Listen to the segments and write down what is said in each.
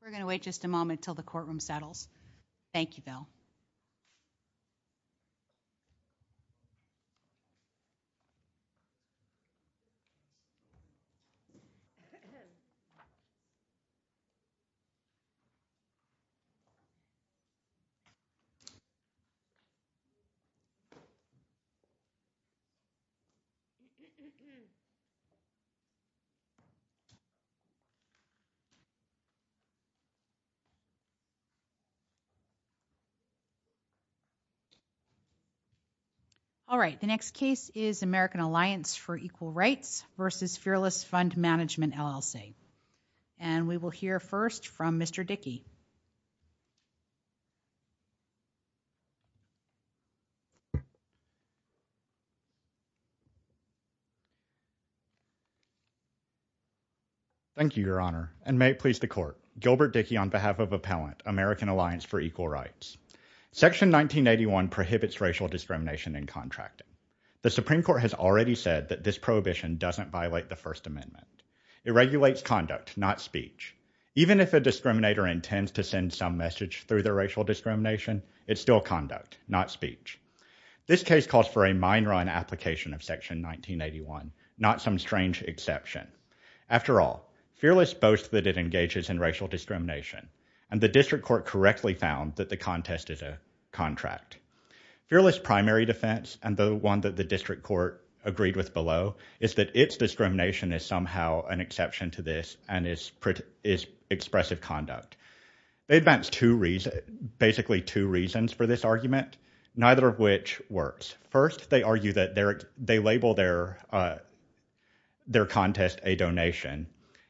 We're going to wait just a moment. We're going to wait just a moment until the courtroom settles. All right, the next case is American Alliance for Equal Rights v. Fearless Fund Management, LLC. And we will hear first from Mr. Dickey. Thank you, Your Honor. And may it please the Court. Gilbert Dickey on behalf of Appellant, American Alliance for Equal Rights. Section 1981 prohibits racial discrimination in contracting. The Supreme Court has already said that this prohibition doesn't violate the First Amendment. It regulates conduct, not speech. Even if a discriminator intends to send some message through their racial discrimination, it's still conduct, not speech. This case calls for a mine run application of Section 1981, not some strange exception. After all, Fearless boasts that it engages in racial discrimination, and the district court correctly found that the contest is a contract. Fearless' primary defense, and the one that the district court agreed with below, is that its discrimination is somehow an exception to this and is expressive conduct. They advance basically two reasons for this argument, neither of which works. First, they argue that they label their contest a donation.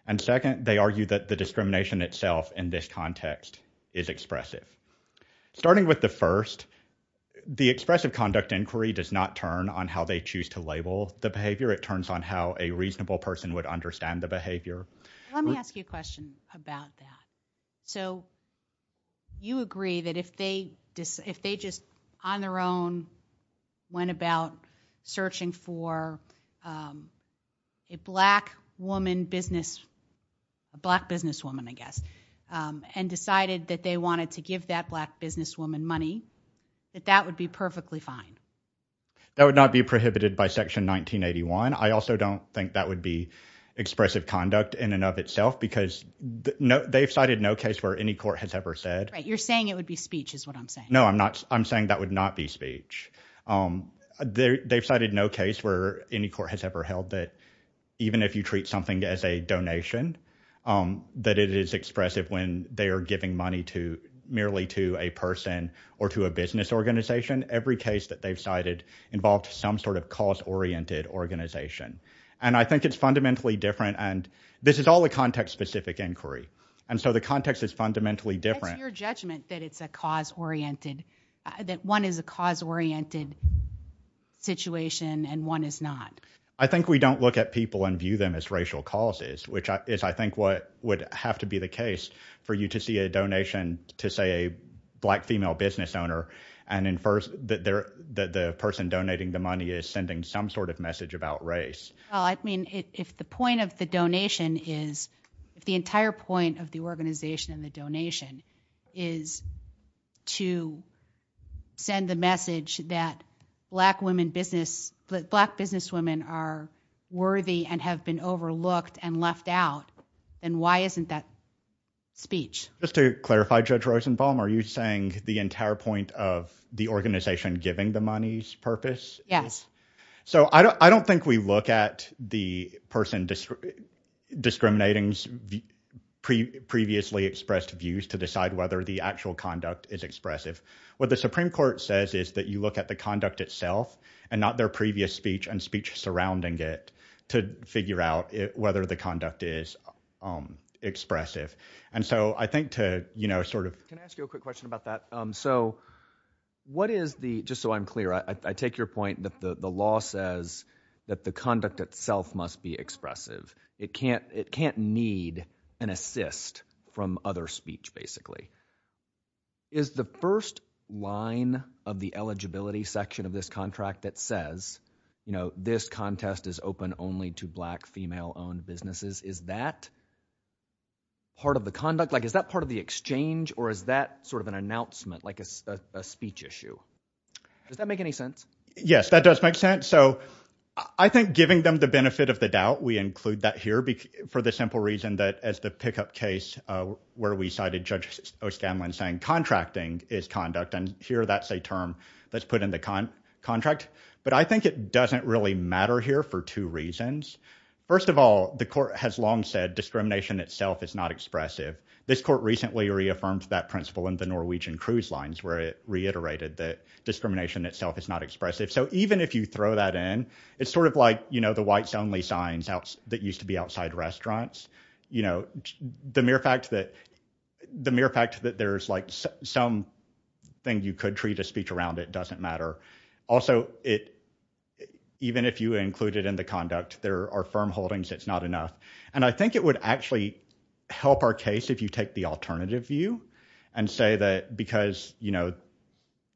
And second, they argue that the discrimination itself in this context is expressive. Starting with the first, the expressive conduct inquiry does not turn on how they choose to label the behavior. It turns on how a reasonable person would understand the behavior. Let me ask you a question about that. So, you agree that if they just, on their own, went about searching for a black woman business, a black businesswoman I guess, and decided that they wanted to give that black businesswoman money, that that would be perfectly fine? That would not be prohibited by Section 1981. I also don't think that would be expressive conduct in and of itself because they've cited no case where any court has ever said. Right. You're saying it would be speech is what I'm saying. No, I'm not. I'm saying that would not be speech. They've cited no case where any court has ever held that even if you treat something as a donation, that it is expressive when they are giving money merely to a person or to a business organization. Every case that they've cited involved some sort of cause-oriented organization. And I think it's fundamentally different, and this is all a context-specific inquiry. And so, the context is fundamentally different. What's your judgment that it's a cause-oriented, that one is a cause-oriented situation and one is not? I think we don't look at people and view them as racial causes, which is I think what would have to be the case for you to see a donation to, say, a black female business owner and infer that the person donating the money is sending some sort of message about race. Well, I mean, if the point of the donation is, if the entire point of the organization and the donation is to send the message that black businesswomen are worthy and have been overlooked and left out, then why isn't that speech? Just to clarify, Judge Rosenbaum, are you saying the entire point of the organization giving the money's purpose? Yes. So, I don't think we look at the person discriminating previously expressed views to decide whether the actual conduct is expressive. What the Supreme Court says is that you look at the conduct itself and not their previous speech and speech surrounding it to figure out whether the conduct is expressive. And so, I think to, you know, sort of... Can I ask you a quick question about that? So, what is the... Just so I'm clear, I take your point that the law says that the conduct itself must be expressive. It can't need an assist from other speech, basically. Is the first line of the eligibility section of this contract that says, you know, this contest is open only to black female-owned businesses, is that part of the conduct? Or is that sort of an announcement, like a speech issue? Does that make any sense? Yes, that does make sense. So, I think giving them the benefit of the doubt, we include that here for the simple reason that as the pickup case where we cited Judge O'Scanlan saying contracting is conduct, and here that's a term that's put in the contract. But I think it doesn't really matter here for two reasons. First of all, the court has long said discrimination itself is not expressive. This court recently reaffirmed that principle in the Norwegian cruise lines where it reiterated that discrimination itself is not expressive. So, even if you throw that in, it's sort of like, you know, the whites-only signs that used to be outside restaurants. You know, the mere fact that there's like some thing you could treat as speech around it doesn't matter. Also, even if you include it in the conduct, there are firm holdings it's not enough. And I think it would actually help our case if you take the alternative view and say that because, you know,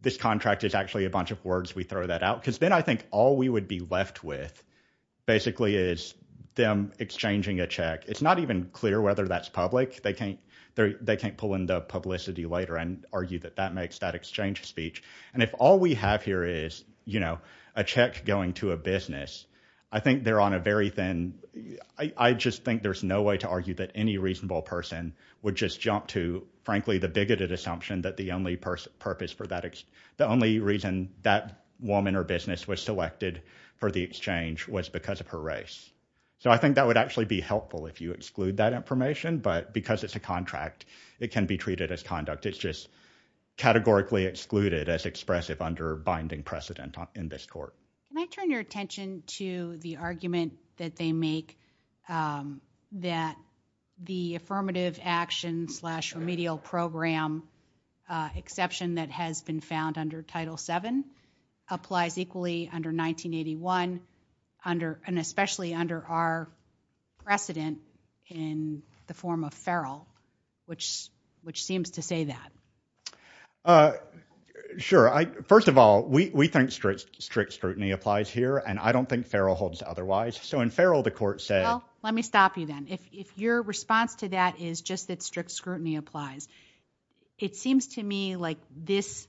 this contract is actually a bunch of words, we throw that out. Because then I think all we would be left with basically is them exchanging a check. It's not even clear whether that's public. They can't pull in the publicity later and argue that that makes that exchange speech. And if all we have here is, you know, a check going to a business, I think they're on a very thin, I just think there's no way to argue that any reasonable person would just jump to, frankly, the bigoted assumption that the only purpose for that, the only reason that woman or business was selected for the exchange was because of her race. So I think that would actually be helpful if you exclude that information. But because it's a contract, it can be treated as conduct. It's just categorically excluded as expressive under binding precedent in this court. Can I turn your attention to the argument that they make that the affirmative action slash remedial program exception that has been found under Title VII applies equally under 1981 and especially under our precedent in the form of Farrell, which seems to say that? Sure. First of all, we think strict scrutiny applies here, and I don't think Farrell holds otherwise. So in Farrell, the court said. Let me stop you then. If your response to that is just that strict scrutiny applies. It seems to me like this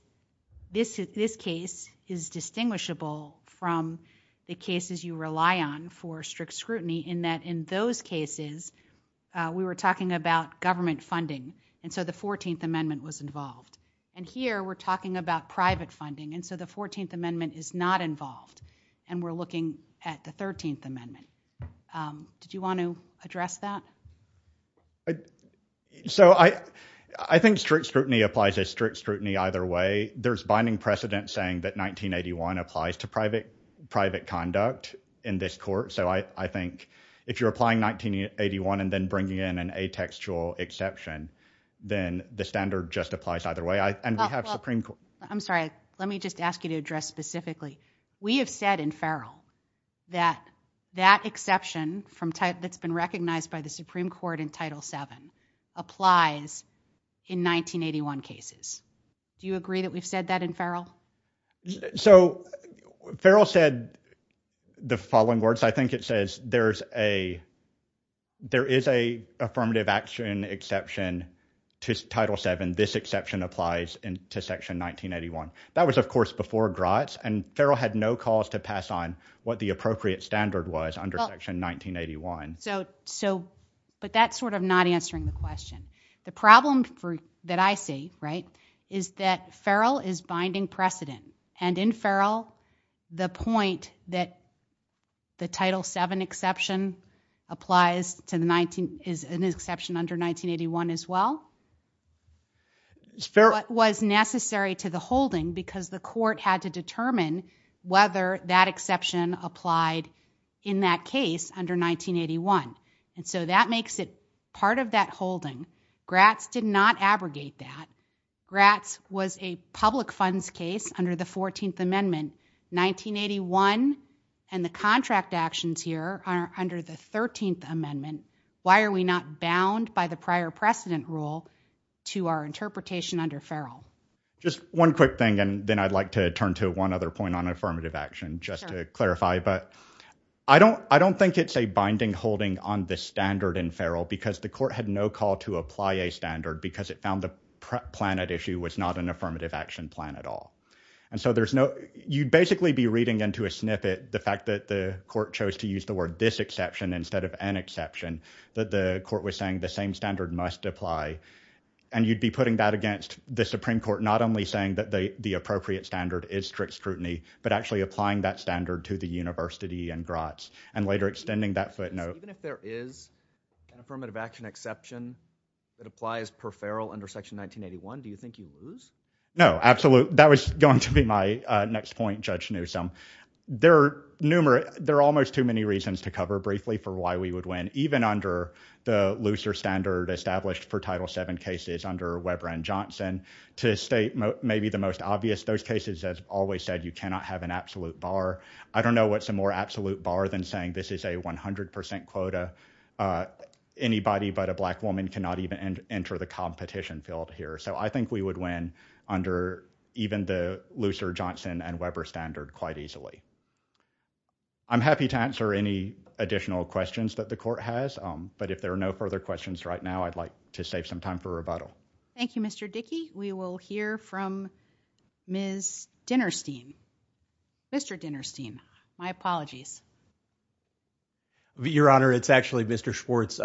case is distinguishable from the cases you rely on for strict scrutiny in that in those cases, we were talking about government funding. And so the 14th Amendment was involved. And here, we're talking about private funding. And so the 14th Amendment is not involved. And we're looking at the 13th Amendment. Did you want to address that? So I think strict scrutiny applies as strict scrutiny either way. There's binding precedent saying that 1981 applies to private conduct in this court. So I think if you're applying 1981 and then bringing in an atextual exception, then the I'm sorry. Let me just ask you to address specifically. We have said in Farrell that that exception that's been recognized by the Supreme Court in Title VII applies in 1981 cases. Do you agree that we've said that in Farrell? So Farrell said the following words. I think it says there is a affirmative action exception to Title VII. And this exception applies to Section 1981. That was, of course, before Gratz. And Farrell had no cause to pass on what the appropriate standard was under Section 1981. But that's sort of not answering the question. The problem that I see, right, is that Farrell is binding precedent. And in Farrell, the point that the Title VII exception applies to the 19 is an exception under 1981 as well. What was necessary to the holding, because the court had to determine whether that exception applied in that case under 1981. And so that makes it part of that holding. Gratz did not abrogate that. Gratz was a public funds case under the 14th Amendment, 1981. And the contract actions here are under the 13th Amendment. Why are we not bound by the prior precedent rule to our interpretation under Farrell? Just one quick thing, and then I'd like to turn to one other point on affirmative action, just to clarify. But I don't think it's a binding holding on the standard in Farrell, because the court had no call to apply a standard, because it found the plan at issue was not an affirmative action plan at all. And so you'd basically be reading into a snippet the fact that the court chose to use the word this exception instead of an exception, that the court was saying the same standard must apply. And you'd be putting that against the Supreme Court, not only saying that the appropriate standard is strict scrutiny, but actually applying that standard to the university and Gratz, and later extending that footnote. Even if there is an affirmative action exception that applies per Farrell under Section 1981, do you think you lose? No, absolutely. That was going to be my next point, Judge Newsom. There are almost too many reasons to cover briefly for why we would win, even under the looser standard established for Title VII cases under Weber and Johnson. To state maybe the most obvious, those cases, as always said, you cannot have an absolute bar. I don't know what's a more absolute bar than saying this is a 100% quota. Anybody but a black woman cannot even enter the competition field here. I think we would win under even the looser Johnson and Weber standard quite easily. I'm happy to answer any additional questions that the court has, but if there are no further questions right now, I'd like to save some time for rebuttal. Thank you, Mr. Dickey. We will hear from Ms. Dinerstein. Mr. Dinerstein, my apologies. Your Honor, it's actually Mr. Schwartz.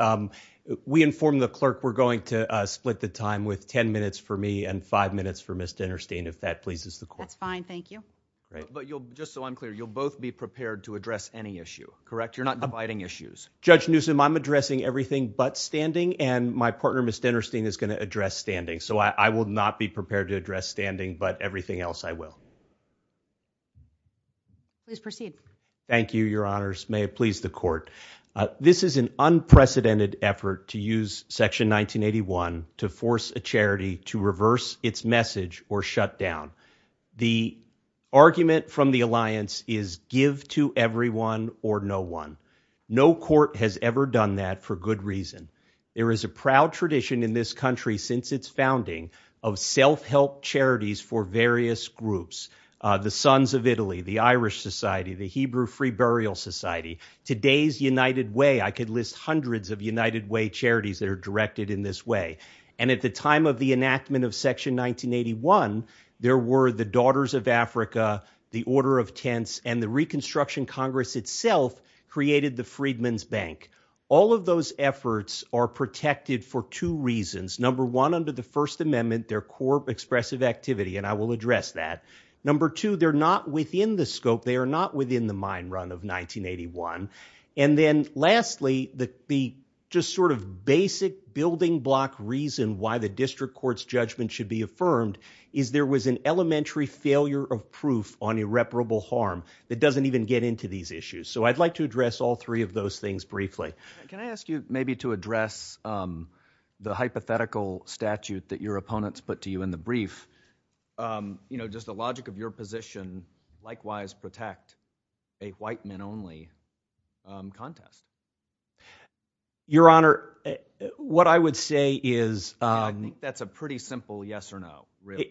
We informed the clerk we're going to split the time with 10 minutes for me and 5 minutes for Ms. Dinerstein, if that pleases the court. That's fine. Thank you. Just so I'm clear, you'll both be prepared to address any issue, correct? You're not dividing issues. Judge Newsom, I'm addressing everything but standing, and my partner, Ms. Dinerstein, is going to address standing, so I will not be prepared to address standing, but everything else I will. Please proceed. Thank you, Your Honors. May it please the court. This is an unprecedented effort to use Section 1981 to force a charity to reverse its message or shut down. The argument from the alliance is give to everyone or no one. No court has ever done that for good reason. There is a proud tradition in this country since its founding of self-help charities for various groups. The Sons of Italy, the Irish Society, the Hebrew Free Burial Society, Today's United Way. I could list hundreds of United Way charities that are directed in this way. At the time of the enactment of Section 1981, there were the Daughters of Africa, the Order of Tents, and the Reconstruction Congress itself created the Freedmen's Bank. All of those efforts are protected for two reasons. Number one, under the First Amendment, they are core expressive activity, and I will address that. Number two, they are not within the scope, they are not within the mind run of 1981. And then lastly, the just sort of basic building block reason why the district court's judgment should be affirmed is there was an elementary failure of proof on irreparable harm that doesn't even get into these issues. So I'd like to address all three of those things briefly. Can I ask you maybe to address the hypothetical statute that your opponents put to you in the brief? You know, does the logic of your position likewise protect a white men only contest? Your Honor, what I would say is... That's a pretty simple yes or no, really.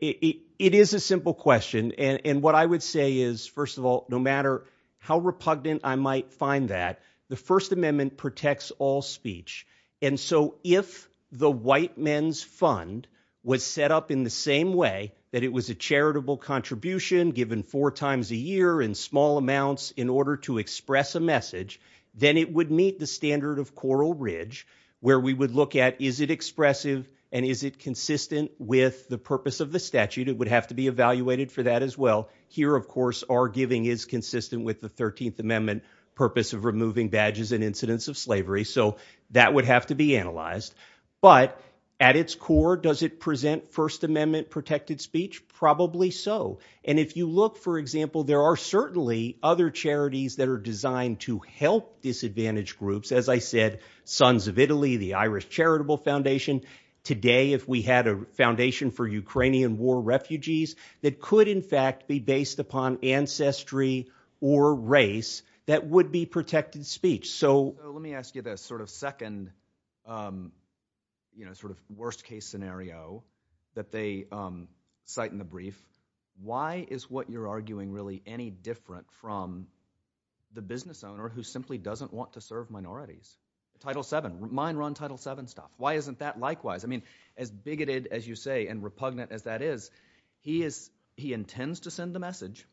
It is a simple question, and what I would say is, first of all, no matter how repugnant I might find that, the First Amendment protects all speech. And so if the white men's fund was set up in the same way that it was a charitable contribution given four times a year in small amounts in order to express a message, then it would meet the standard of Coral Ridge, where we would look at is it expressive and is it consistent with the purpose of the statute? It would have to be evaluated for that as well. Here, of course, our giving is consistent with the 13th Amendment purpose of removing badges and incidents of slavery, so that would have to be analyzed. But at its core, does it present First Amendment protected speech? Probably so. And if you look, for example, there are certainly other charities that are designed to help disadvantaged groups. As I said, Sons of Italy, the Irish Charitable Foundation, today if we had a foundation for based upon ancestry or race, that would be protected speech. So let me ask you this sort of second, you know, sort of worst case scenario that they cite in the brief. Why is what you're arguing really any different from the business owner who simply doesn't want to serve minorities? Title VII, mine run Title VII stuff. Why isn't that likewise? I mean, as bigoted as you say and repugnant as that is, he is, he intends to send a message.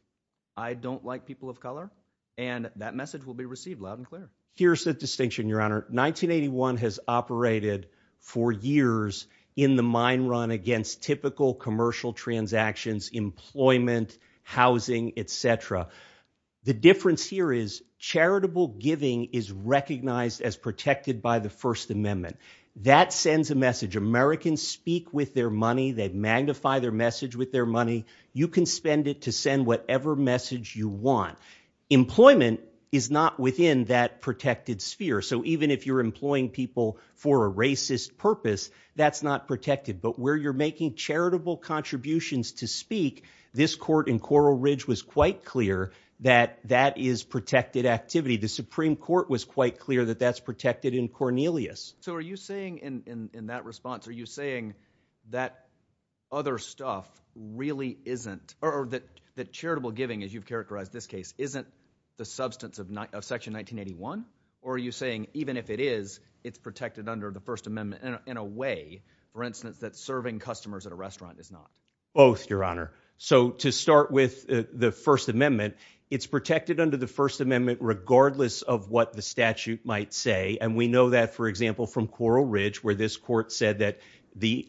I don't like people of color. And that message will be received loud and clear. Here's the distinction, Your Honor, 1981 has operated for years in the mine run against typical commercial transactions, employment, housing, etc. The difference here is charitable giving is recognized as protected by the First Amendment. That sends a message. Americans speak with their money. They magnify their message with their money. You can spend it to send whatever message you want. Employment is not within that protected sphere. So even if you're employing people for a racist purpose, that's not protected. But where you're making charitable contributions to speak, this court in Coral Ridge was quite clear that that is protected activity. The Supreme Court was quite clear that that's protected in Cornelius. So are you saying in that response, are you saying that other stuff really isn't, or that charitable giving, as you've characterized this case, isn't the substance of Section 1981? Or are you saying even if it is, it's protected under the First Amendment in a way, for instance, that serving customers at a restaurant is not? Both, Your Honor. So to start with the First Amendment, it's protected under the First Amendment regardless of what the statute might say. And we know that, for example, from Coral Ridge, where this court said that the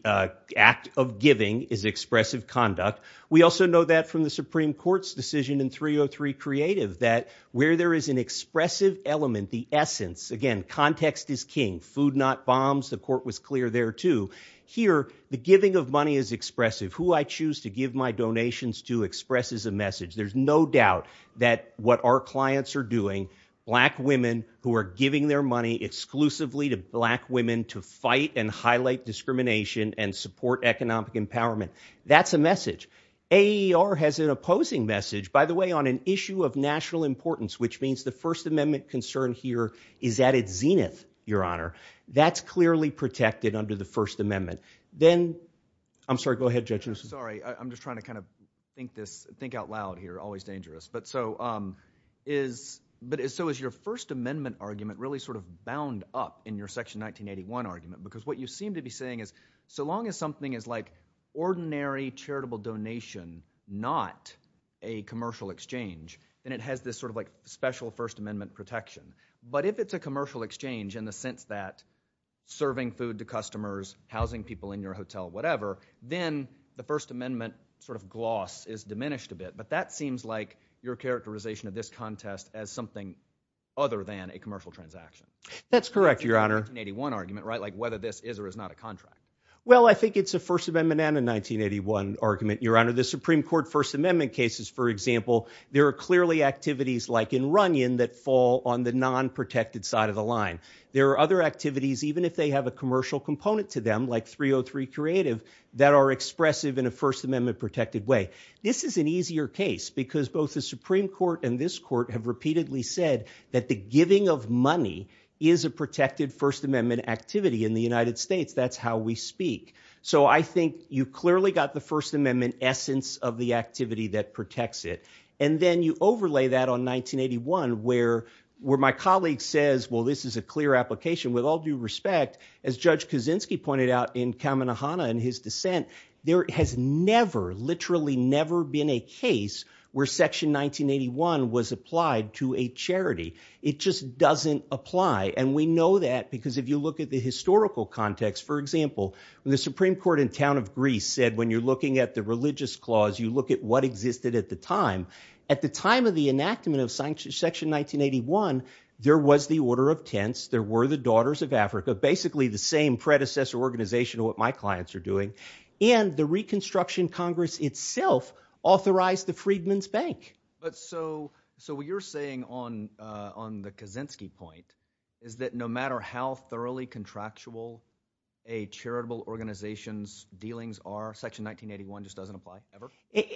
act of giving is expressive conduct. We also know that from the Supreme Court's decision in 303 Creative, that where there is an expressive element, the essence, again, context is king. Food not bombs. The court was clear there too. Here, the giving of money is expressive. Who I choose to give my donations to expresses a message. There's no doubt that what our clients are doing, black women who are giving their money exclusively to black women to fight and highlight discrimination and support economic empowerment, that's a message. AER has an opposing message, by the way, on an issue of national importance, which means the First Amendment concern here is at its zenith, Your Honor. That's clearly protected under the First Amendment. Then, I'm sorry, go ahead, Judge Nelson. I'm sorry. I'm just trying to kind of think out loud here, always dangerous. So is your First Amendment argument really sort of bound up in your Section 1981 argument? Because what you seem to be saying is, so long as something is like ordinary charitable donation, not a commercial exchange, then it has this sort of like special First Amendment protection. But if it's a commercial exchange in the sense that serving food to customers, housing people in your hotel, whatever, then the First Amendment sort of gloss is diminished a bit. But that seems like your characterization of this contest as something other than a commercial transaction. That's correct, Your Honor. 1981 argument, right? Like whether this is or is not a contract. Well, I think it's a First Amendment and a 1981 argument, Your Honor. The Supreme Court First Amendment cases, for example, there are clearly activities like in Runyon that fall on the non-protected side of the line. There are other activities, even if they have a commercial component to them, like 303 Creative, that are expressive in a First Amendment protected way. This is an easier case because both the Supreme Court and this court have repeatedly said that the giving of money is a protected First Amendment activity in the United States. That's how we speak. So I think you clearly got the First Amendment essence of the activity that protects it. And then you overlay that on 1981, where my colleague says, well, this is a clear application. With all due respect, as Judge Kaczynski pointed out in Kamenohana in his dissent, there has never, literally never been a case where Section 1981 was applied to a charity. It just doesn't apply. And we know that because if you look at the historical context, for example, when the Supreme Court in the town of Greece said, when you're looking at the religious clause, you look at what existed at the time. At the time of the enactment of Section 1981, there was the Order of Tenths, there were the Daughters of Africa, basically the same predecessor organization of what my clients are doing, and the Reconstruction Congress itself authorized the Freedmen's Bank. So what you're saying on the Kaczynski point is that no matter how thoroughly contractual a charitable organization's dealings are, Section 1981 just doesn't apply, ever?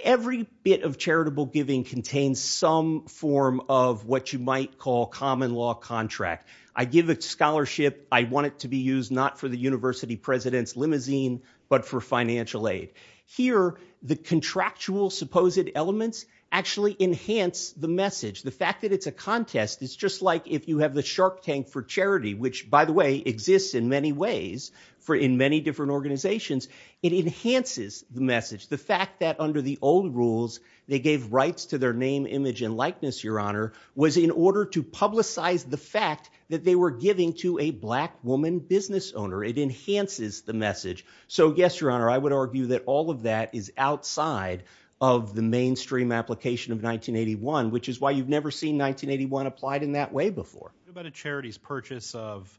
Every bit of charitable giving contains some form of what you might call common law contract. I give a scholarship, I want it to be used not for the university president's limousine, but for financial aid. Here, the contractual supposed elements actually enhance the message. The fact that it's a contest is just like if you have the shark tank for charity, which by the way, exists in many ways in many different organizations, it enhances the message. The fact that under the old rules, they gave rights to their name, image, and likeness, Your Honor, was in order to publicize the fact that they were giving to a black woman business owner. It enhances the message. So yes, Your Honor, I would argue that all of that is outside of the mainstream application of 1981, which is why you've never seen 1981 applied in that way before. What about a charity's purchase of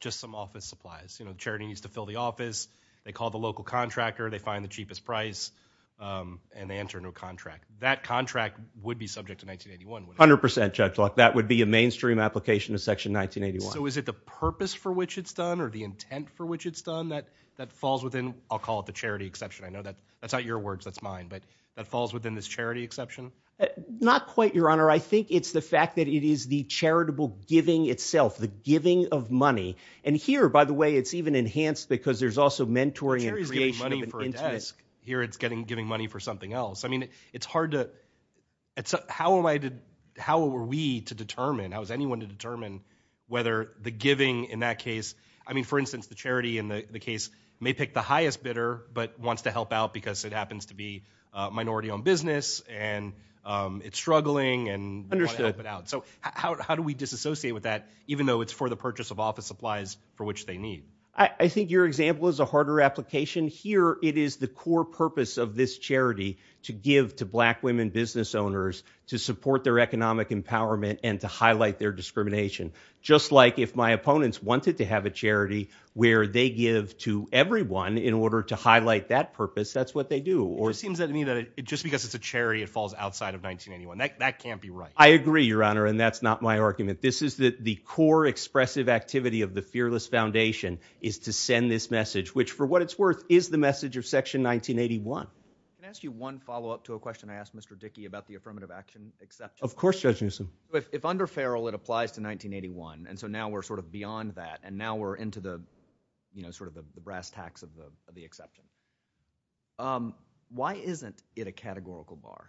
just some office supplies? You know, the charity needs to fill the office, they call the local contractor, they find the cheapest price, and they enter into a contract. That contract would be subject to 1981, wouldn't it? 100%, Judge Locke. That would be a mainstream application of Section 1981. So is it the purpose for which it's done, or the intent for which it's done, that falls within, I'll call it the charity exception, I know that's not your words, that's mine, but that falls within this charity exception? Not quite, Your Honor. I think it's the fact that it is the charitable giving itself, the giving of money. And here, by the way, it's even enhanced because there's also mentoring and creation of an Charity's giving money for a desk. Here it's giving money for something else. I mean, it's hard to, how am I to, how were we to determine, how was anyone to determine whether the giving in that case, I mean, for instance, the charity in the case may pick the highest bidder, but wants to help out because it happens to be a minority owned business and it's struggling and want to help it out. So how do we disassociate with that, even though it's for the purchase of office supplies for which they need? I think your example is a harder application. Here it is the core purpose of this charity to give to black women business owners to support their economic empowerment and to highlight their discrimination. Just like if my opponents wanted to have a charity where they give to everyone in order to highlight that purpose, that's what they do. It just seems to me that just because it's a charity, it falls outside of 1981. That can't be right. I agree, your Honor, and that's not my argument. This is the core expressive activity of the fearless foundation is to send this message, which for what it's worth is the message of section 1981. Can I ask you one follow up to a question I asked Mr. Dickey about the affirmative action exception? Of course, Judge Newsom. If under Farrell, it applies to 1981 and so now we're sort of beyond that and now we're into the brass tacks of the exception. Why isn't it a categorical bar?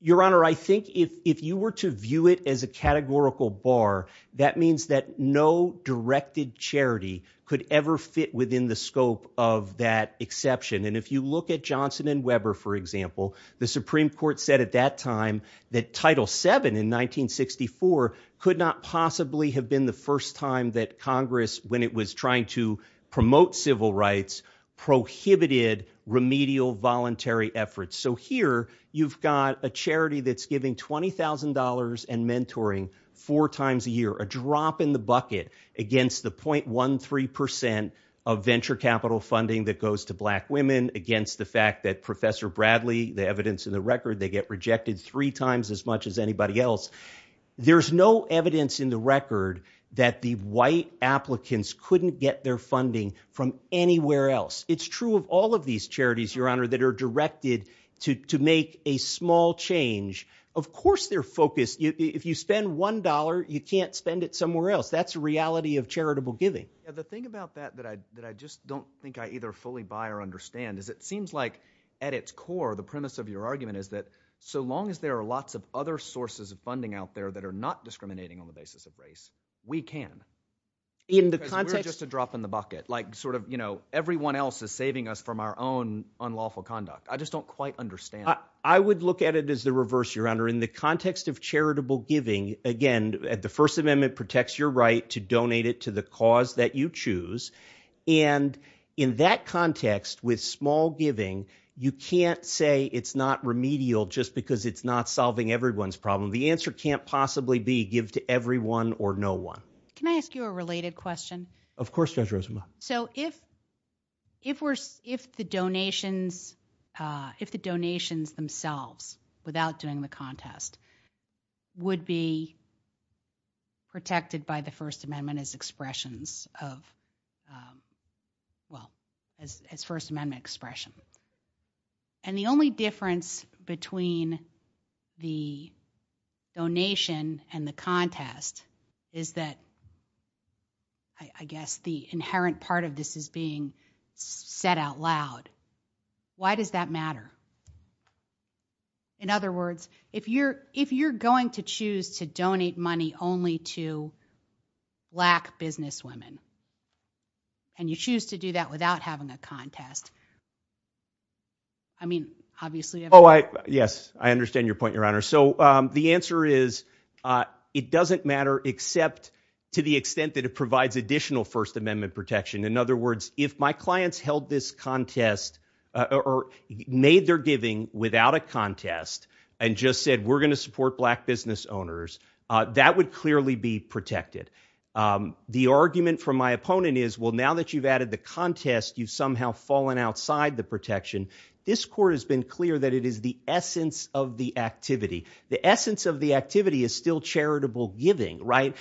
Your Honor, I think if you were to view it as a categorical bar, that means that no directed charity could ever fit within the scope of that exception. If you look at Johnson and Weber, for example, the Supreme Court said at that time that Title VII in 1964 could not possibly have been the first time that Congress, when it was trying to promote civil rights, prohibited remedial voluntary efforts. So here you've got a charity that's giving $20,000 and mentoring four times a year, a drop in the bucket against the .13% of venture capital funding that goes to black women against the fact that Professor Bradley, the evidence in the record, they get rejected three times as much as anybody else. There's no evidence in the record that the white applicants couldn't get their funding from anywhere else. It's true of all of these charities, Your Honor, that are directed to make a small change. Of course they're focused. If you spend $1, you can't spend it somewhere else. That's a reality of charitable giving. The thing about that that I just don't think I either fully buy or understand is it seems like at its core, the premise of your argument is that so long as there are lots of other sources of funding out there that are not discriminating on the basis of race, we can. In the context— Because we're just a drop in the bucket. Like sort of, you know, everyone else is saving us from our own unlawful conduct. I just don't quite understand. I would look at it as the reverse, Your Honor. In the context of charitable giving, again, the First Amendment protects your right to donate it to the cause that you choose. And in that context, with small giving, you can't say it's not remedial just because it's not solving everyone's problem. The answer can't possibly be give to everyone or no one. Can I ask you a related question? Of course, Judge Rosenbaum. So if the donations themselves, without doing the contest, would be protected by the First Amendment as expressions of—well, as First Amendment expression, and the only difference between the donation and the contest is that, I guess, the inherent part of this is being said out loud, why does that matter? In other words, if you're going to choose to donate money only to black businesswomen, and you choose to do that without having a contest, I mean, obviously— Oh, yes. I understand your point, Your Honor. So the answer is, it doesn't matter except to the extent that it provides additional First Amendment protection. In other words, if my clients held this contest or made their giving without a contest and just said, we're going to support black business owners, that would clearly be protected. The argument from my opponent is, well, now that you've added the contest, you've somehow fallen outside the protection. This court has been clear that it is the essence of the activity. The essence of the activity is still charitable giving, right?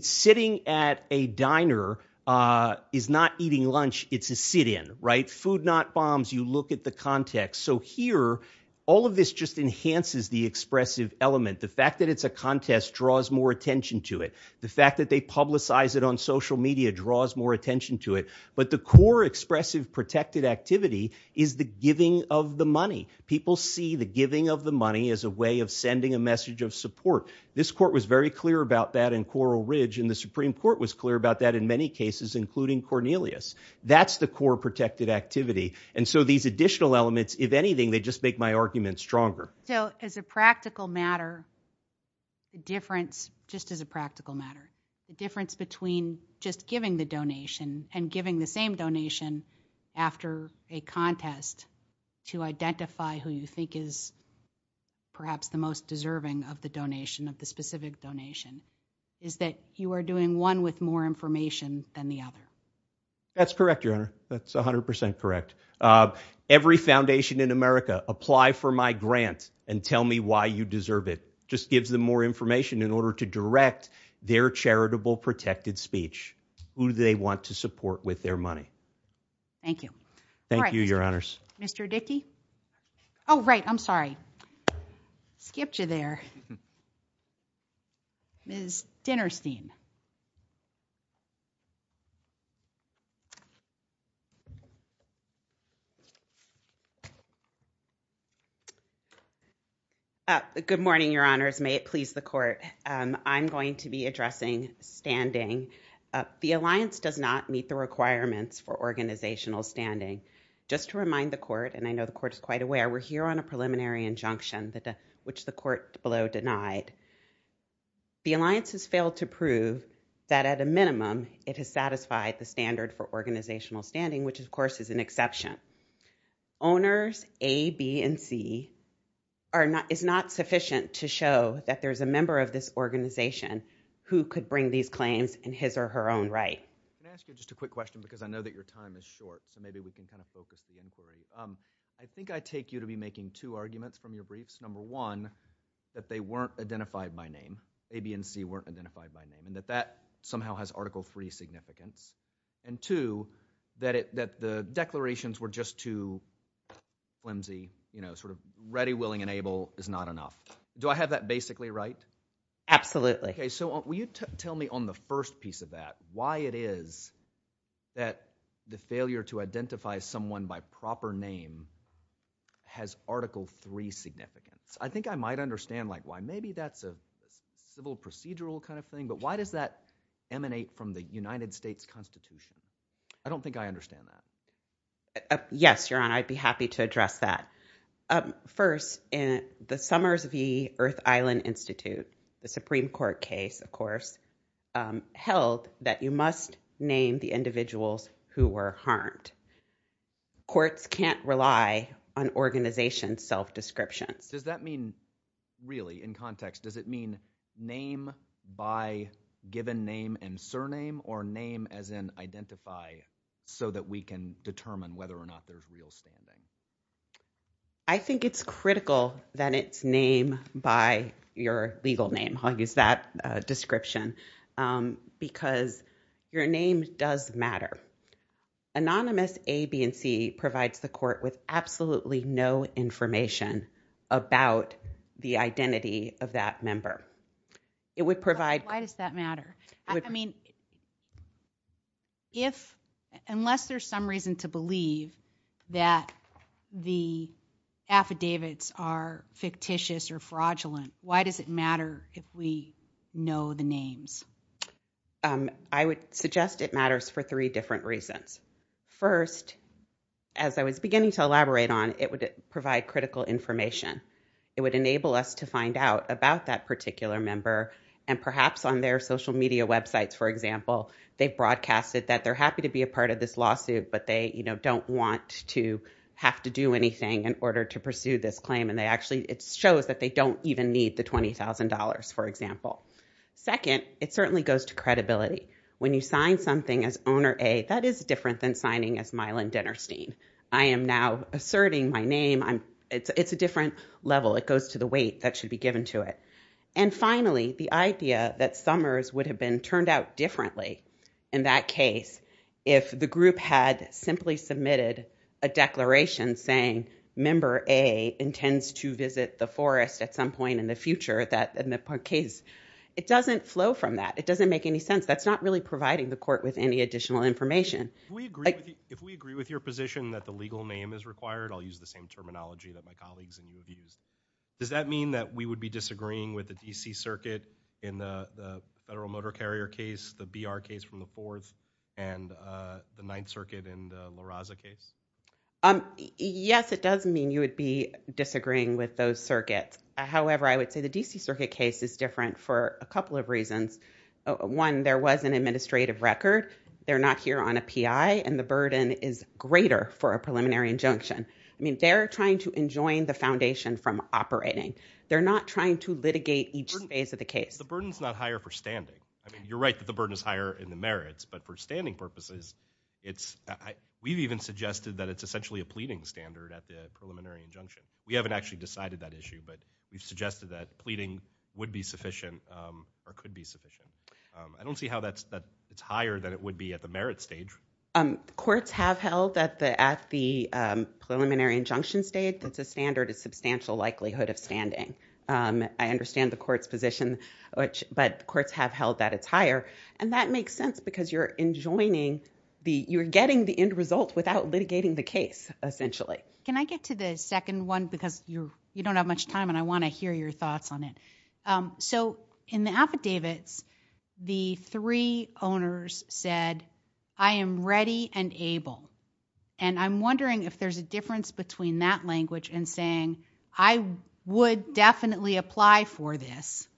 Sitting at a diner is not eating lunch, it's a sit-in, right? Food not bombs, you look at the context. So here, all of this just enhances the expressive element. The fact that it's a contest draws more attention to it. The fact that they publicize it on social media draws more attention to it. But the core expressive protected activity is the giving of the money. People see the giving of the money as a way of sending a message of support. This court was very clear about that in Coral Ridge, and the Supreme Court was clear about that in many cases, including Cornelius. That's the core protected activity. And so these additional elements, if anything, they just make my argument stronger. So as a practical matter, the difference, just as a practical matter, the difference between just giving the donation and giving the same donation after a contest to identify who you think is perhaps the most deserving of the donation, of the specific donation, is that you are doing one with more information than the other. That's correct, Your Honor. That's 100% correct. Every foundation in America, apply for my grant and tell me why you deserve it. Just gives them more information in order to direct their charitable protected speech, who they want to support with their money. Thank you. Thank you, Your Honors. Mr. Dickey? Oh, right. I'm sorry. Skipped you there. Ms. Dinnerstein? Good morning, Your Honors. May it please the court. I'm going to be addressing standing. The alliance does not meet the requirements for organizational standing. Just to remind the court, and I know the court is quite aware, we're here on a preliminary injunction, which the court below denied. The alliance has failed to prove that, at a minimum, it has satisfied the standard for organizational standing, which, of course, is an exception. Owners A, B, and C is not sufficient to show that there's a member of this organization who could bring these claims in his or her own right. Can I ask you just a quick question? Because I know that your time is short, so maybe we can kind of focus the inquiry. I think I take you to be making two arguments from your briefs. Number one, that they weren't identified by name. A, B, and C weren't identified by name. And that that somehow has Article III significance. And two, that the declarations were just too flimsy, you know, sort of ready, willing, and able is not enough. Do I have that basically right? Absolutely. Okay, so will you tell me on the first piece of that, why it is that the failure to identify someone by proper name has Article III significance? I think I might understand, like, why maybe that's a civil procedural kind of thing. But why does that emanate from the United States Constitution? I don't think I understand that. Yes, Your Honor, I'd be happy to address that. First, the Summers v. Earth Island Institute, the Supreme Court case, of course, held that you must name the individuals who were harmed. Courts can't rely on organizations' self-descriptions. Does that mean, really, in context, does it mean name by given name and surname, or name as in identify so that we can determine whether or not there's real standing? I think it's critical that it's name by your legal name. I'll use that description because your name does matter. Anonymous A, B, and C provides the court with absolutely no information about the identity of that member. It would provide... But why does that matter? I mean, unless there's some reason to believe that the affidavits are fictitious or fraudulent, why does it matter if we know the names? I would suggest it matters for three different reasons. First, as I was beginning to elaborate on, it would provide critical information. It would enable us to find out about that particular member, and perhaps on their social media websites, for example, they've broadcasted that they're happy to be a part of this lawsuit, but they don't want to have to do anything in order to pursue this claim, and it shows that they don't even need the $20,000, for example. Second, it certainly goes to credibility. When you sign something as Owner A, that is different than signing as Mylon Dinerstein. I am now asserting my name. It's a different level. It goes to the weight that should be given to it. And finally, the idea that Summers would have been turned out differently in that case if the group had simply submitted a declaration saying, Member A intends to visit the forest at some point in the future in the case. It doesn't flow from that. It doesn't make any sense. That's not really providing the court with any additional information. If we agree with your position that the legal name is required, I'll use the same terminology that my colleagues and you have used, does that mean that we would be disagreeing with the D.C. Circuit in the Federal Motor Carrier case, the B.R. case from the fourth, and the Ninth Circuit in the La Raza case? Yes, it does mean you would be disagreeing with those circuits. However, I would say the D.C. Circuit case is different for a couple of reasons. One, there was an administrative record. They're not here on a PI, and the burden is greater for a preliminary injunction. I mean, they're trying to enjoin the foundation from operating. They're not trying to litigate each phase of the case. The burden is not higher for standing. I mean, you're right that the burden is higher in the merits, but for standing purposes, we've even suggested that it's essentially a pleading standard at the preliminary injunction. We haven't actually decided that issue, but we've suggested that pleading would be sufficient or could be sufficient. I don't see how that's higher than it would be at the merit stage. Courts have held that at the preliminary injunction state, that the standard is substantial likelihood of standing. I understand the court's position, but courts have held that it's higher, and that makes sense because you're enjoining the – you're getting the end result without litigating the case, essentially. Can I get to the second one? Because you don't have much time, and I want to hear your thoughts on it. So in the affidavits, the three owners said, I am ready and able. And I'm wondering if there's a difference between that language and saying, I would definitely apply for this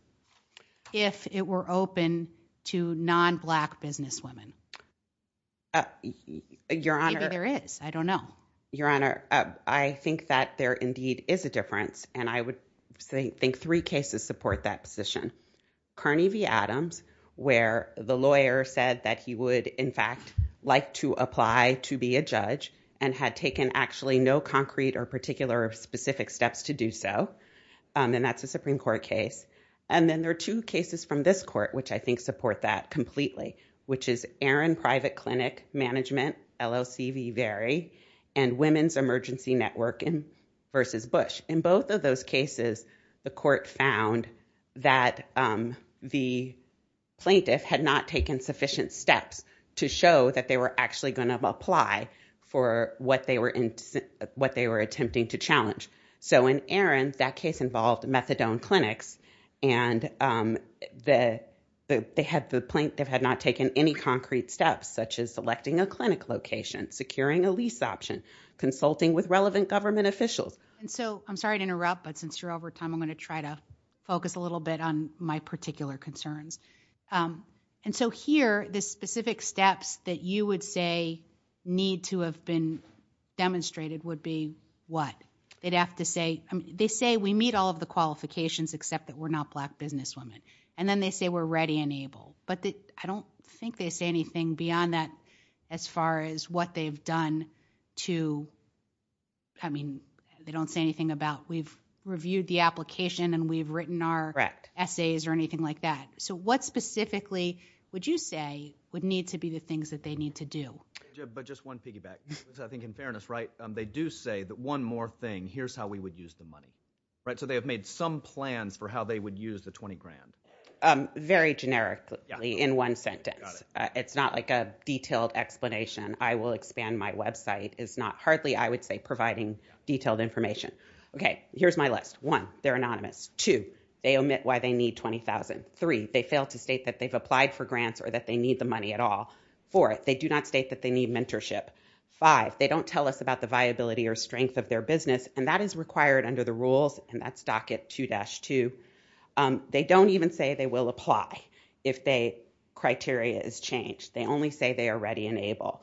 if it were open to non-black businesswomen. Maybe there is. I don't know. Your Honor, I think that there indeed is a difference, and I would think three cases support that position. Carney v. Adams, where the lawyer said that he would, in fact, like to apply to be a judge and had taken actually no concrete or particular specific steps to do so. And that's a Supreme Court case. And then there are two cases from this court, which I think support that completely, which is Aaron Private Clinic Management, LLC v. Vary, and Women's Emergency Network v. Bush. In both of those cases, the court found that the plaintiff had not taken sufficient steps to show that they were actually going to apply for what they were attempting to challenge. So in Aaron, that case involved methadone clinics, and the plaintiff had not taken any concrete steps, such as selecting a clinic location, securing a lease option, consulting with relevant government officials. And so I'm sorry to interrupt, but since you're over time, I'm going to try to focus a little bit on my particular concerns. And so here, the specific steps that you would say need to have been demonstrated would be what? They'd have to say we meet all of the qualifications, except that we're not black businesswomen. And then they say we're ready and able. But I don't think they say anything beyond that as far as what they've done to, I mean, they don't say anything about we've reviewed the application and we've written our essays or anything like that. So what specifically would you say would need to be the things that they need to do? But just one piggyback, because I think in fairness, right, they do say that one more thing, here's how we would use the money. So they have made some plans for how they would use the 20 grand. Very generically in one sentence. It's not like a detailed explanation. I will expand my website. It's not hardly, I would say, providing detailed information. Okay, here's my list. One, they're anonymous. Two, they omit why they need 20,000. Three, they fail to state that they've applied for grants or that they need the money at all. Four, they do not state that they need mentorship. Five, they don't tell us about the viability or strength of their business, and that is required under the rules, and that's docket 2-2. They don't even say they will apply if criteria is changed. They only say they are ready and able.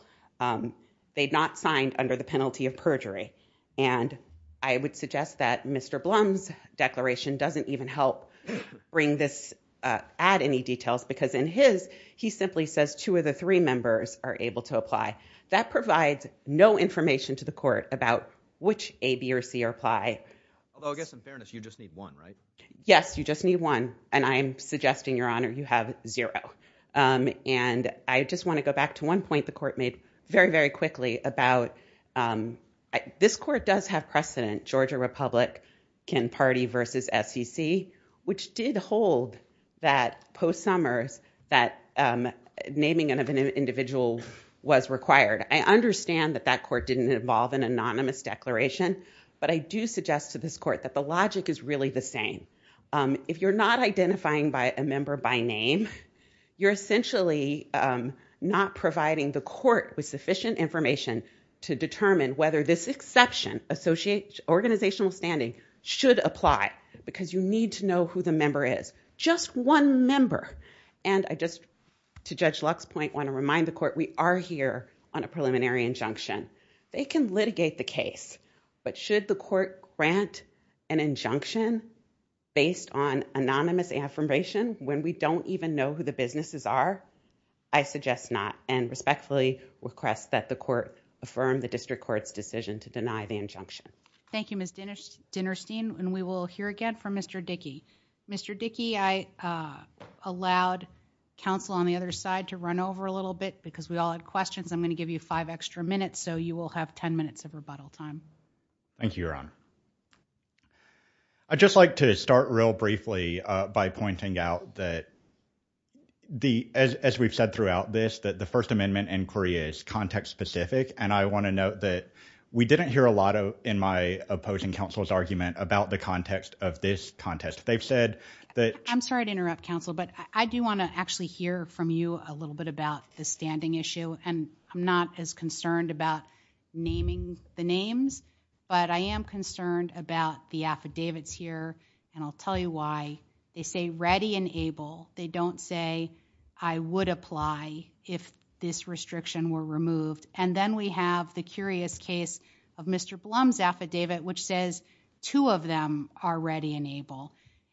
They've not signed under the penalty of perjury, and I would suggest that Mr. Blum's declaration doesn't even help bring this add any details, because in his, he simply says two of the three members are able to apply. That provides no information to the court about which A, B, or C are apply. Although, I guess in fairness, you just need one, right? Yes, you just need one, and I'm suggesting, Your Honor, you have zero. I just want to go back to one point the court made very, very quickly about this court does have precedent, Georgia Republican Party versus SEC, which did hold that post-Summers, that naming of an individual was required. I understand that that court didn't involve an anonymous declaration, but I do suggest to this court that the logic is really the same. If you're not identifying by a member by name, you're essentially not providing the court with sufficient information to determine whether this exception, organizational standing, should apply, because you need to know who the member is. Just one member, and I just, to Judge Luck's point, want to remind the court we are here on a preliminary injunction. They can litigate the case, but should the court grant an injunction based on anonymous affirmation when we don't even know who the businesses are? I suggest not, and respectfully request that the court affirm the district court's decision to deny the injunction. Thank you, Ms. Dinerstein, and we will hear again from Mr. Dickey. Mr. Dickey, I allowed counsel on the other side to run over a little bit, because we all had questions. I'm going to give you five extra minutes, Thank you, Your Honor. I'd just like to start real briefly by pointing out that, as we've said throughout this, that the First Amendment inquiry is context-specific, and I want to note that we didn't hear a lot in my opposing counsel's argument about the context of this contest. They've said that- I'm sorry to interrupt, counsel, but I do want to actually hear from you a little bit about the standing issue, and I'm not as concerned about naming the names, but I am concerned about the affidavits here, and I'll tell you why. They say ready and able. They don't say I would apply if this restriction were removed, and then we have the curious case of Mr. Blum's affidavit, which says two of them are ready and able,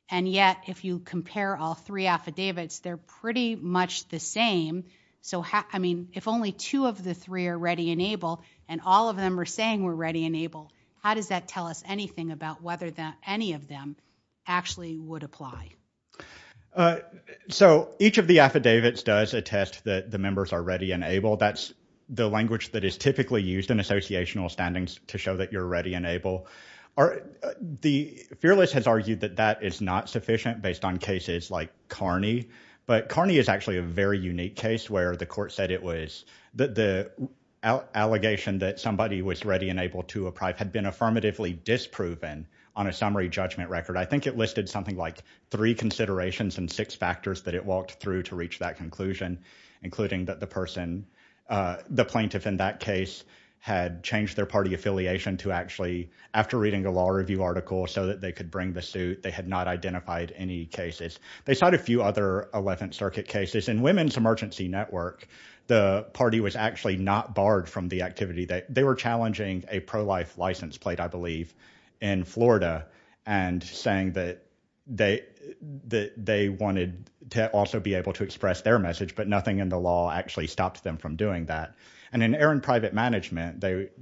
and yet, if you compare all three affidavits, they're pretty much the same. So, I mean, if only two of the three are ready and able, and all of them are saying we're ready and able, how does that tell us anything about whether any of them actually would apply? So, each of the affidavits does attest that the members are ready and able. That's the language that is typically used in associational standings to show that you're ready and able. The fearless has argued that that is not sufficient based on cases like Carney, but Carney is actually a very unique case where the court said the allegation that somebody was ready and able to apply had been affirmatively disproven on a summary judgment record. I think it listed something like three considerations and six factors that it walked through to reach that conclusion, including that the plaintiff in that case had changed their party affiliation to actually, after reading a law review article, so that they could bring the suit, they had not identified any cases. They cite a few other Eleventh Circuit cases. In Women's Emergency Network, the party was actually not barred from the activity. They were challenging a pro-life license plate, I believe, in Florida, and saying that they wanted to also be able to express their message, but nothing in the law actually stopped them from doing that. And in Aaron Private Management, it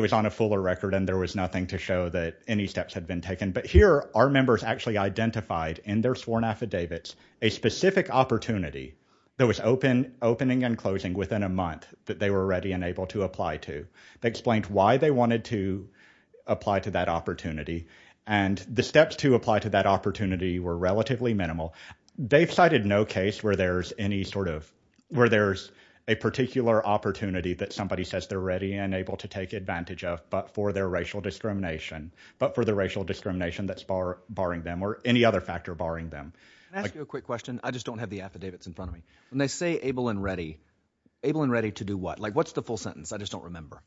was on a fuller record, and there was nothing to show that any steps had been taken. But here, our members actually identified in their sworn affidavits a specific opportunity that was opening and closing within a month that they were ready and able to apply to. They explained why they wanted to apply to that opportunity, and the steps to apply to that opportunity were relatively minimal. They've cited no case where there's a particular opportunity that somebody says they're ready and able to take advantage of but for their racial discrimination, but for the racial discrimination that's barring them or any other factor barring them. Can I ask you a quick question? I just don't have the affidavits in front of me. When they say able and ready, able and ready to do what? Like, what's the full sentence? I just don't remember.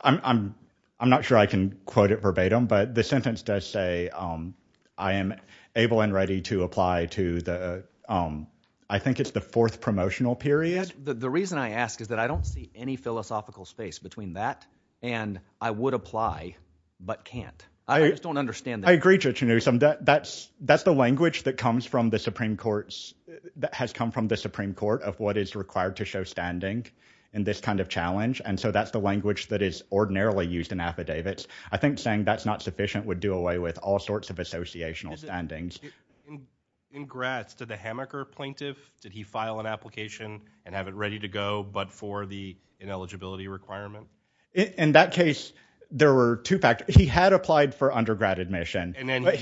I'm not sure I can quote it verbatim, but the sentence does say I am able and ready to apply to the, I think it's the fourth promotional period. The reason I ask is that I don't see any philosophical space between that and I would apply but can't. I just don't understand that. I agree, Judge Newsom. That's the language that has come from the Supreme Court of what is required to show standing in this kind of challenge, and so that's the language that is ordinarily used in affidavits. I think saying that's not sufficient would do away with all sorts of associational standings. Congrats to the hammocker plaintiff. Did he file an application and have it ready to go but for the ineligibility requirement? In that case, there were two factors. He had applied for undergrad admission, but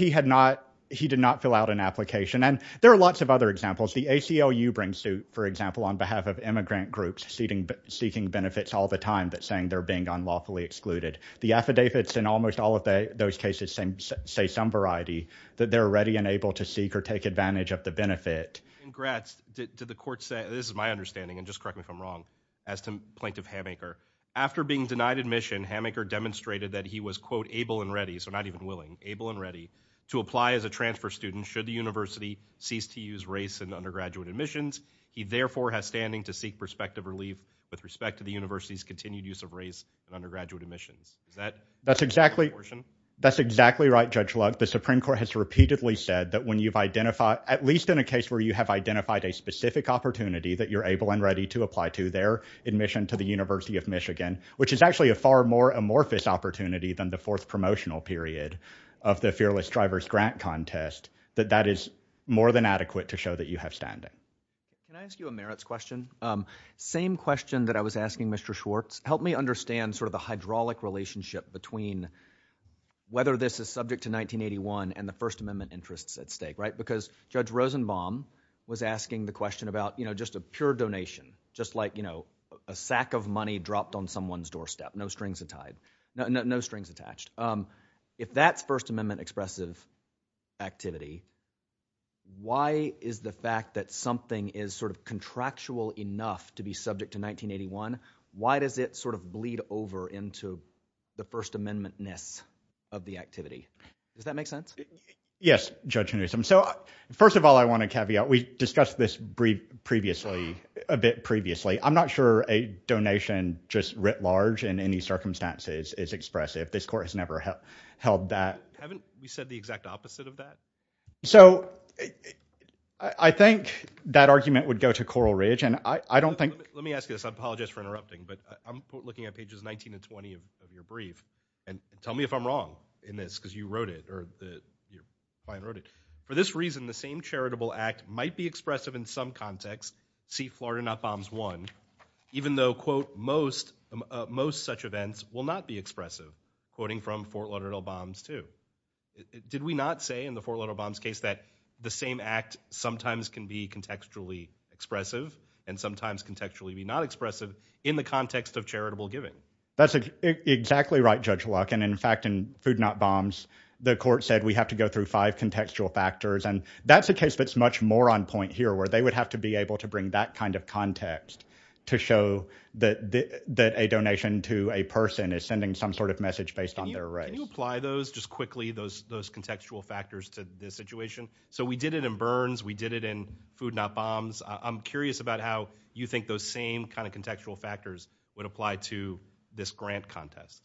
he did not fill out an application, and there are lots of other examples. The ACLU brings to, for example, on behalf of immigrant groups seeking benefits all the time but saying they're being unlawfully excluded. The affidavits in almost all of those cases say some variety, that they're ready and able to seek or take advantage of the benefit. Congrats to the court. This is my understanding, and just correct me if I'm wrong, as to Plaintiff Hammacher. After being denied admission, Hammacher demonstrated that he was, quote, able and ready, so not even willing, able and ready, to apply as a transfer student should the university cease to use race in undergraduate admissions. He, therefore, has standing to seek perspective relief with respect to the university's continued use of race in undergraduate admissions. That's exactly right, Judge Luck. The Supreme Court has repeatedly said that when you've identified, at least in a case where you have identified a specific opportunity that you're able and ready to apply to, their admission to the University of Michigan, which is actually a far more amorphous opportunity than the fourth promotional period of the Fearless Drivers Grant Contest, that that is more than adequate to show that you have standing. Can I ask you a merits question? Same question that I was asking Mr. Schwartz. Help me understand sort of the hydraulic relationship between whether this is subject to 1981 and the First Amendment interests at stake, right? Because Judge Rosenbaum was asking the question about just a pure donation, just like a sack of money dropped on someone's doorstep, no strings attached. If that's First Amendment expressive activity, why is the fact that something is sort of contractual enough to be subject to 1981, why does it sort of bleed over into the First Amendment-ness of the activity? Does that make sense? Yes, Judge Newsom. So first of all, I want to caveat. We discussed this a bit previously. I'm not sure a donation just writ large in any circumstances is expressive. This Court has never held that. Haven't we said the exact opposite of that? So I think that argument would go to Coral Ridge, and I don't think— Let me ask you this. but I'm looking at pages 19 and 20 of your brief, and tell me if I'm wrong in this because you wrote it, or your client wrote it. For this reason, the same charitable act might be expressive in some context, see Florida Not Bombs 1, even though, quote, most such events will not be expressive, quoting from Fort Lauderdale Bombs 2. Did we not say in the Fort Lauderdale Bombs case that the same act sometimes can be contextually expressive and sometimes contextually be not expressive in the context of charitable giving? That's exactly right, Judge Luck. And in fact, in Food Not Bombs, the Court said we have to go through five contextual factors, and that's a case that's much more on point here where they would have to be able to bring that kind of context to show that a donation to a person is sending some sort of message based on their race. Can you apply those, just quickly, those contextual factors to this situation? So we did it in Burns. We did it in Food Not Bombs. I'm curious about how you think those same kind of contextual factors would apply to this grant contest.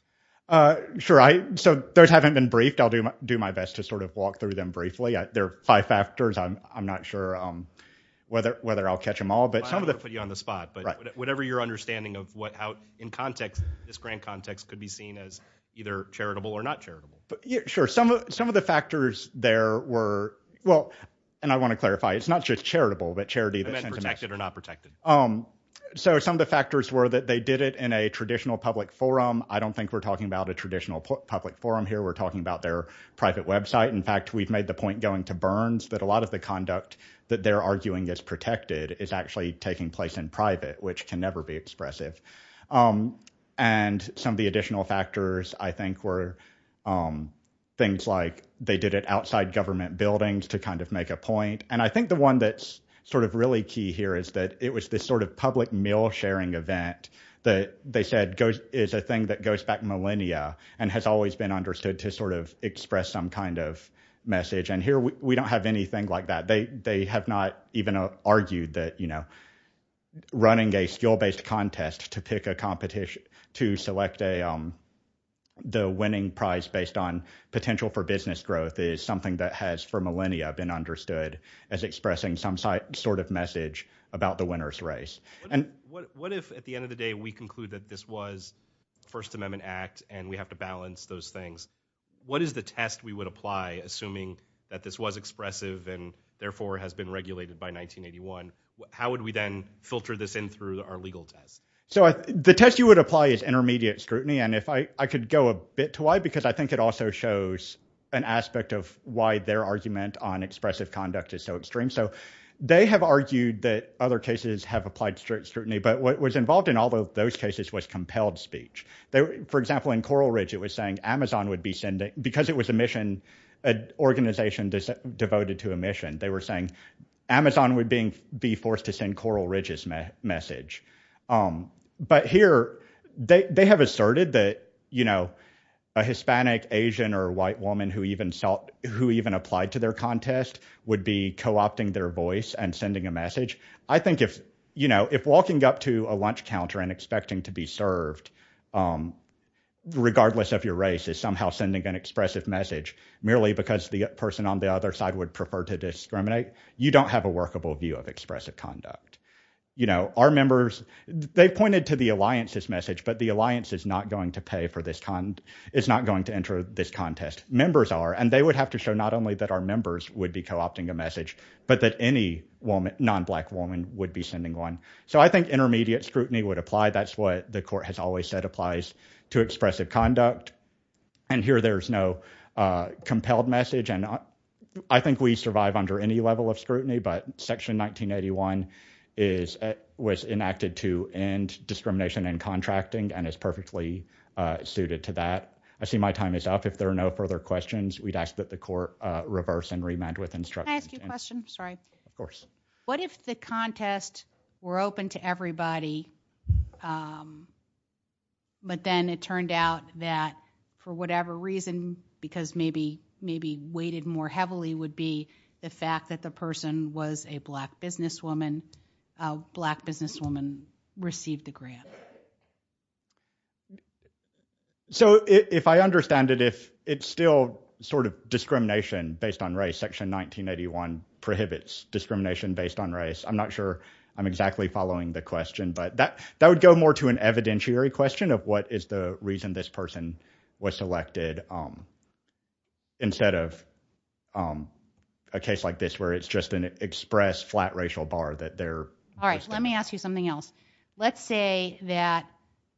Sure. So those haven't been briefed. I'll do my best to sort of walk through them briefly. There are five factors. I'm not sure whether I'll catch them all. I don't want to put you on the spot, but whatever your understanding of how, in context, this grant context could be seen as either charitable or not charitable. Sure. Some of the factors there were, well, and I want to clarify, it's not just charitable, but charity that sends a message. You meant protected or not protected. So some of the factors were that they did it in a traditional public forum. I don't think we're talking about a traditional public forum here. We're talking about their private website. In fact, we've made the point going to Burns that a lot of the conduct that they're arguing is protected is actually taking place in private, which can never be expressive. And some of the additional factors, I think, were things like they did it outside government buildings to kind of make a point. And I think the one that's sort of really key here is that it was this sort of public meal-sharing event that they said is a thing that goes back millennia and has always been understood to sort of express some kind of message. And here we don't have anything like that. They have not even argued that, you know, running a skill-based contest to pick a competition to select the winning prize based on potential for business growth is something that has for millennia been understood as expressing some sort of message about the winner's race. What if at the end of the day we conclude that this was First Amendment Act and we have to balance those things? What is the test we would apply assuming that this was expressive and therefore has been regulated by 1981? How would we then filter this in through our legal test? So the test you would apply is intermediate scrutiny. And if I could go a bit too wide, because I think it also shows an aspect of why their argument on expressive conduct is so extreme. So they have argued that other cases have applied strict scrutiny, but what was involved in all of those cases was compelled speech. For example, in Coral Ridge it was saying Amazon would be sending because it was a mission, an organization devoted to a mission, they were saying Amazon would be forced to send Coral Ridge's message. But here they have asserted that, you know, a Hispanic, Asian, or white woman who even applied to their contest would be co-opting their voice and sending a message. I think if walking up to a lunch counter and expecting to be served, regardless of your race, is somehow sending an expressive message merely because the person on the other side would prefer to discriminate, you don't have a workable view of expressive conduct. You know, our members, they pointed to the alliance's message, but the alliance is not going to pay for this, is not going to enter this contest. Members are, and they would have to show not only that our members would be co-opting a message, but that any non-black woman would be sending one. So I think intermediate scrutiny would apply. That's what the court has always said applies to expressive conduct. And here there's no compelled message, and I think we survive under any level of scrutiny, but Section 1981 was enacted to end discrimination in contracting and is perfectly suited to that. I see my time is up. If there are no further questions, we'd ask that the court reverse and remand with instructions. Can I ask you a question? Sorry. Of course. What if the contest were open to everybody, but then it turned out that for whatever reason, because maybe weighted more heavily would be the fact that the person was a black businesswoman, black businesswoman received the grant. So if I understand it, if it's still sort of discrimination based on race, Section 1981 prohibits discrimination based on race. I'm not sure I'm exactly following the question, but that would go more to an evidentiary question of what is the reason this person was selected instead of a case like this, where it's just an express flat racial bar that they're. All right, let me ask you something else. Let's say that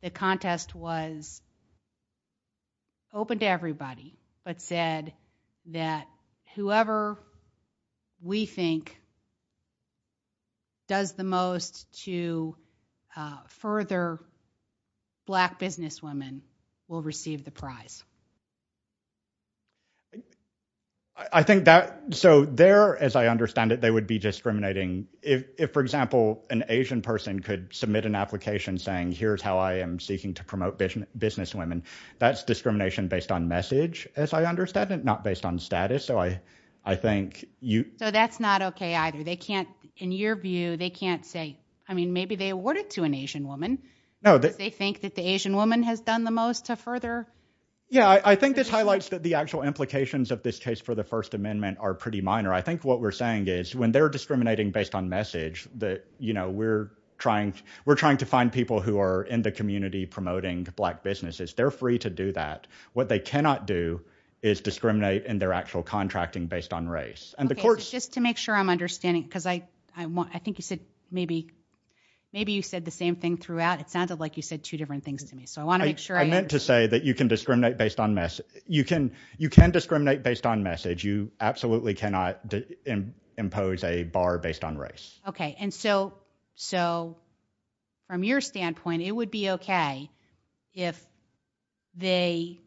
the contest was open to everybody, but said that whoever we think does the most to further black businesswomen will receive the prize. I think that. So there, as I understand it, they would be discriminating. If, for example, an Asian person could submit an application saying, here's how I am seeking to promote vision business women. That's discrimination based on message, as I understand it, not based on status. So I, I think you. So that's not okay either. They can't in your view, they can't say, I mean, maybe they awarded to an Asian woman. No, they think that the Asian woman has done the most to further. Yeah. I think this highlights that the actual implications of this case for the first amendment are pretty minor. I think what we're saying is when they're discriminating based on message that, you know, we're trying. We're trying to find people who are in the community, promoting black businesses. They're free to do that. What they cannot do is discriminate in their actual contracting based on race and the courts just to make sure I'm understanding. Cause I, I want, I think you said maybe. Maybe you said the same thing throughout. It sounded like you said two different things to me. So I want to make sure I meant to say that you can discriminate based on mess. You can, you can discriminate based on message. You absolutely cannot impose a bar based on race. Okay. And so, so. From your standpoint, it would be okay. If they.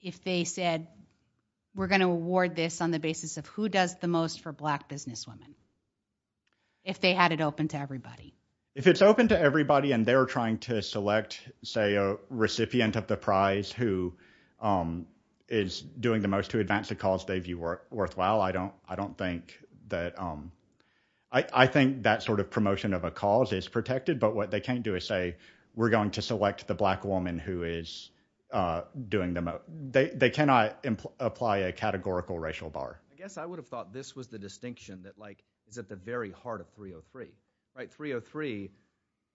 If they said. We're going to award this on the basis of who does the most for black businesswomen. If they had it open to everybody. If it's open to everybody and they're trying to select, say, a recipient of the prize who. Is doing the most to advance the cause they view worthwhile. I don't, I don't think that. I think that sort of promotion of a cause is protected, but what they can't do is say, we're going to select the black woman who is doing them. They cannot apply a categorical racial bar. I guess I would have thought this was the distinction that like, is at the very heart of 303, right? 303.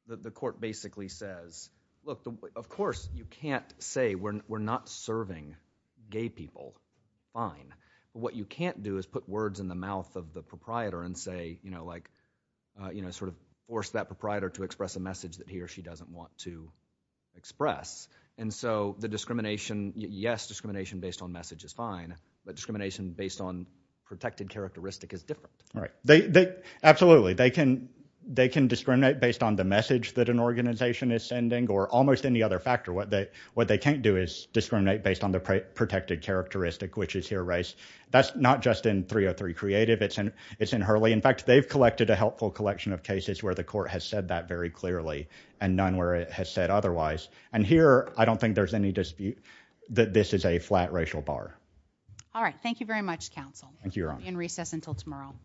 The court basically says, look, of course you can't say we're, we're not serving gay people. Fine. What you can't do is put words in the mouth of the proprietor and say, you know, like, you know, sort of force that proprietor to express a message that he or she doesn't want to. Express. And so the discrimination, yes. Discrimination based on message is fine, but discrimination based on protected characteristic is different. Right. They, they absolutely, they can, they can discriminate based on the message that an organization is sending or almost any other factor. What they, what they can't do is discriminate based on the protected characteristic, which is here race. That's not just in 303 creative. It's in, it's in Hurley. In fact, they've collected a helpful collection of cases where the court has said that very clearly and none where it has said otherwise. And here, I don't think there's any dispute that this is a flat racial bar. All right. Thank you very much. Counsel. Thank you. You're on recess until tomorrow.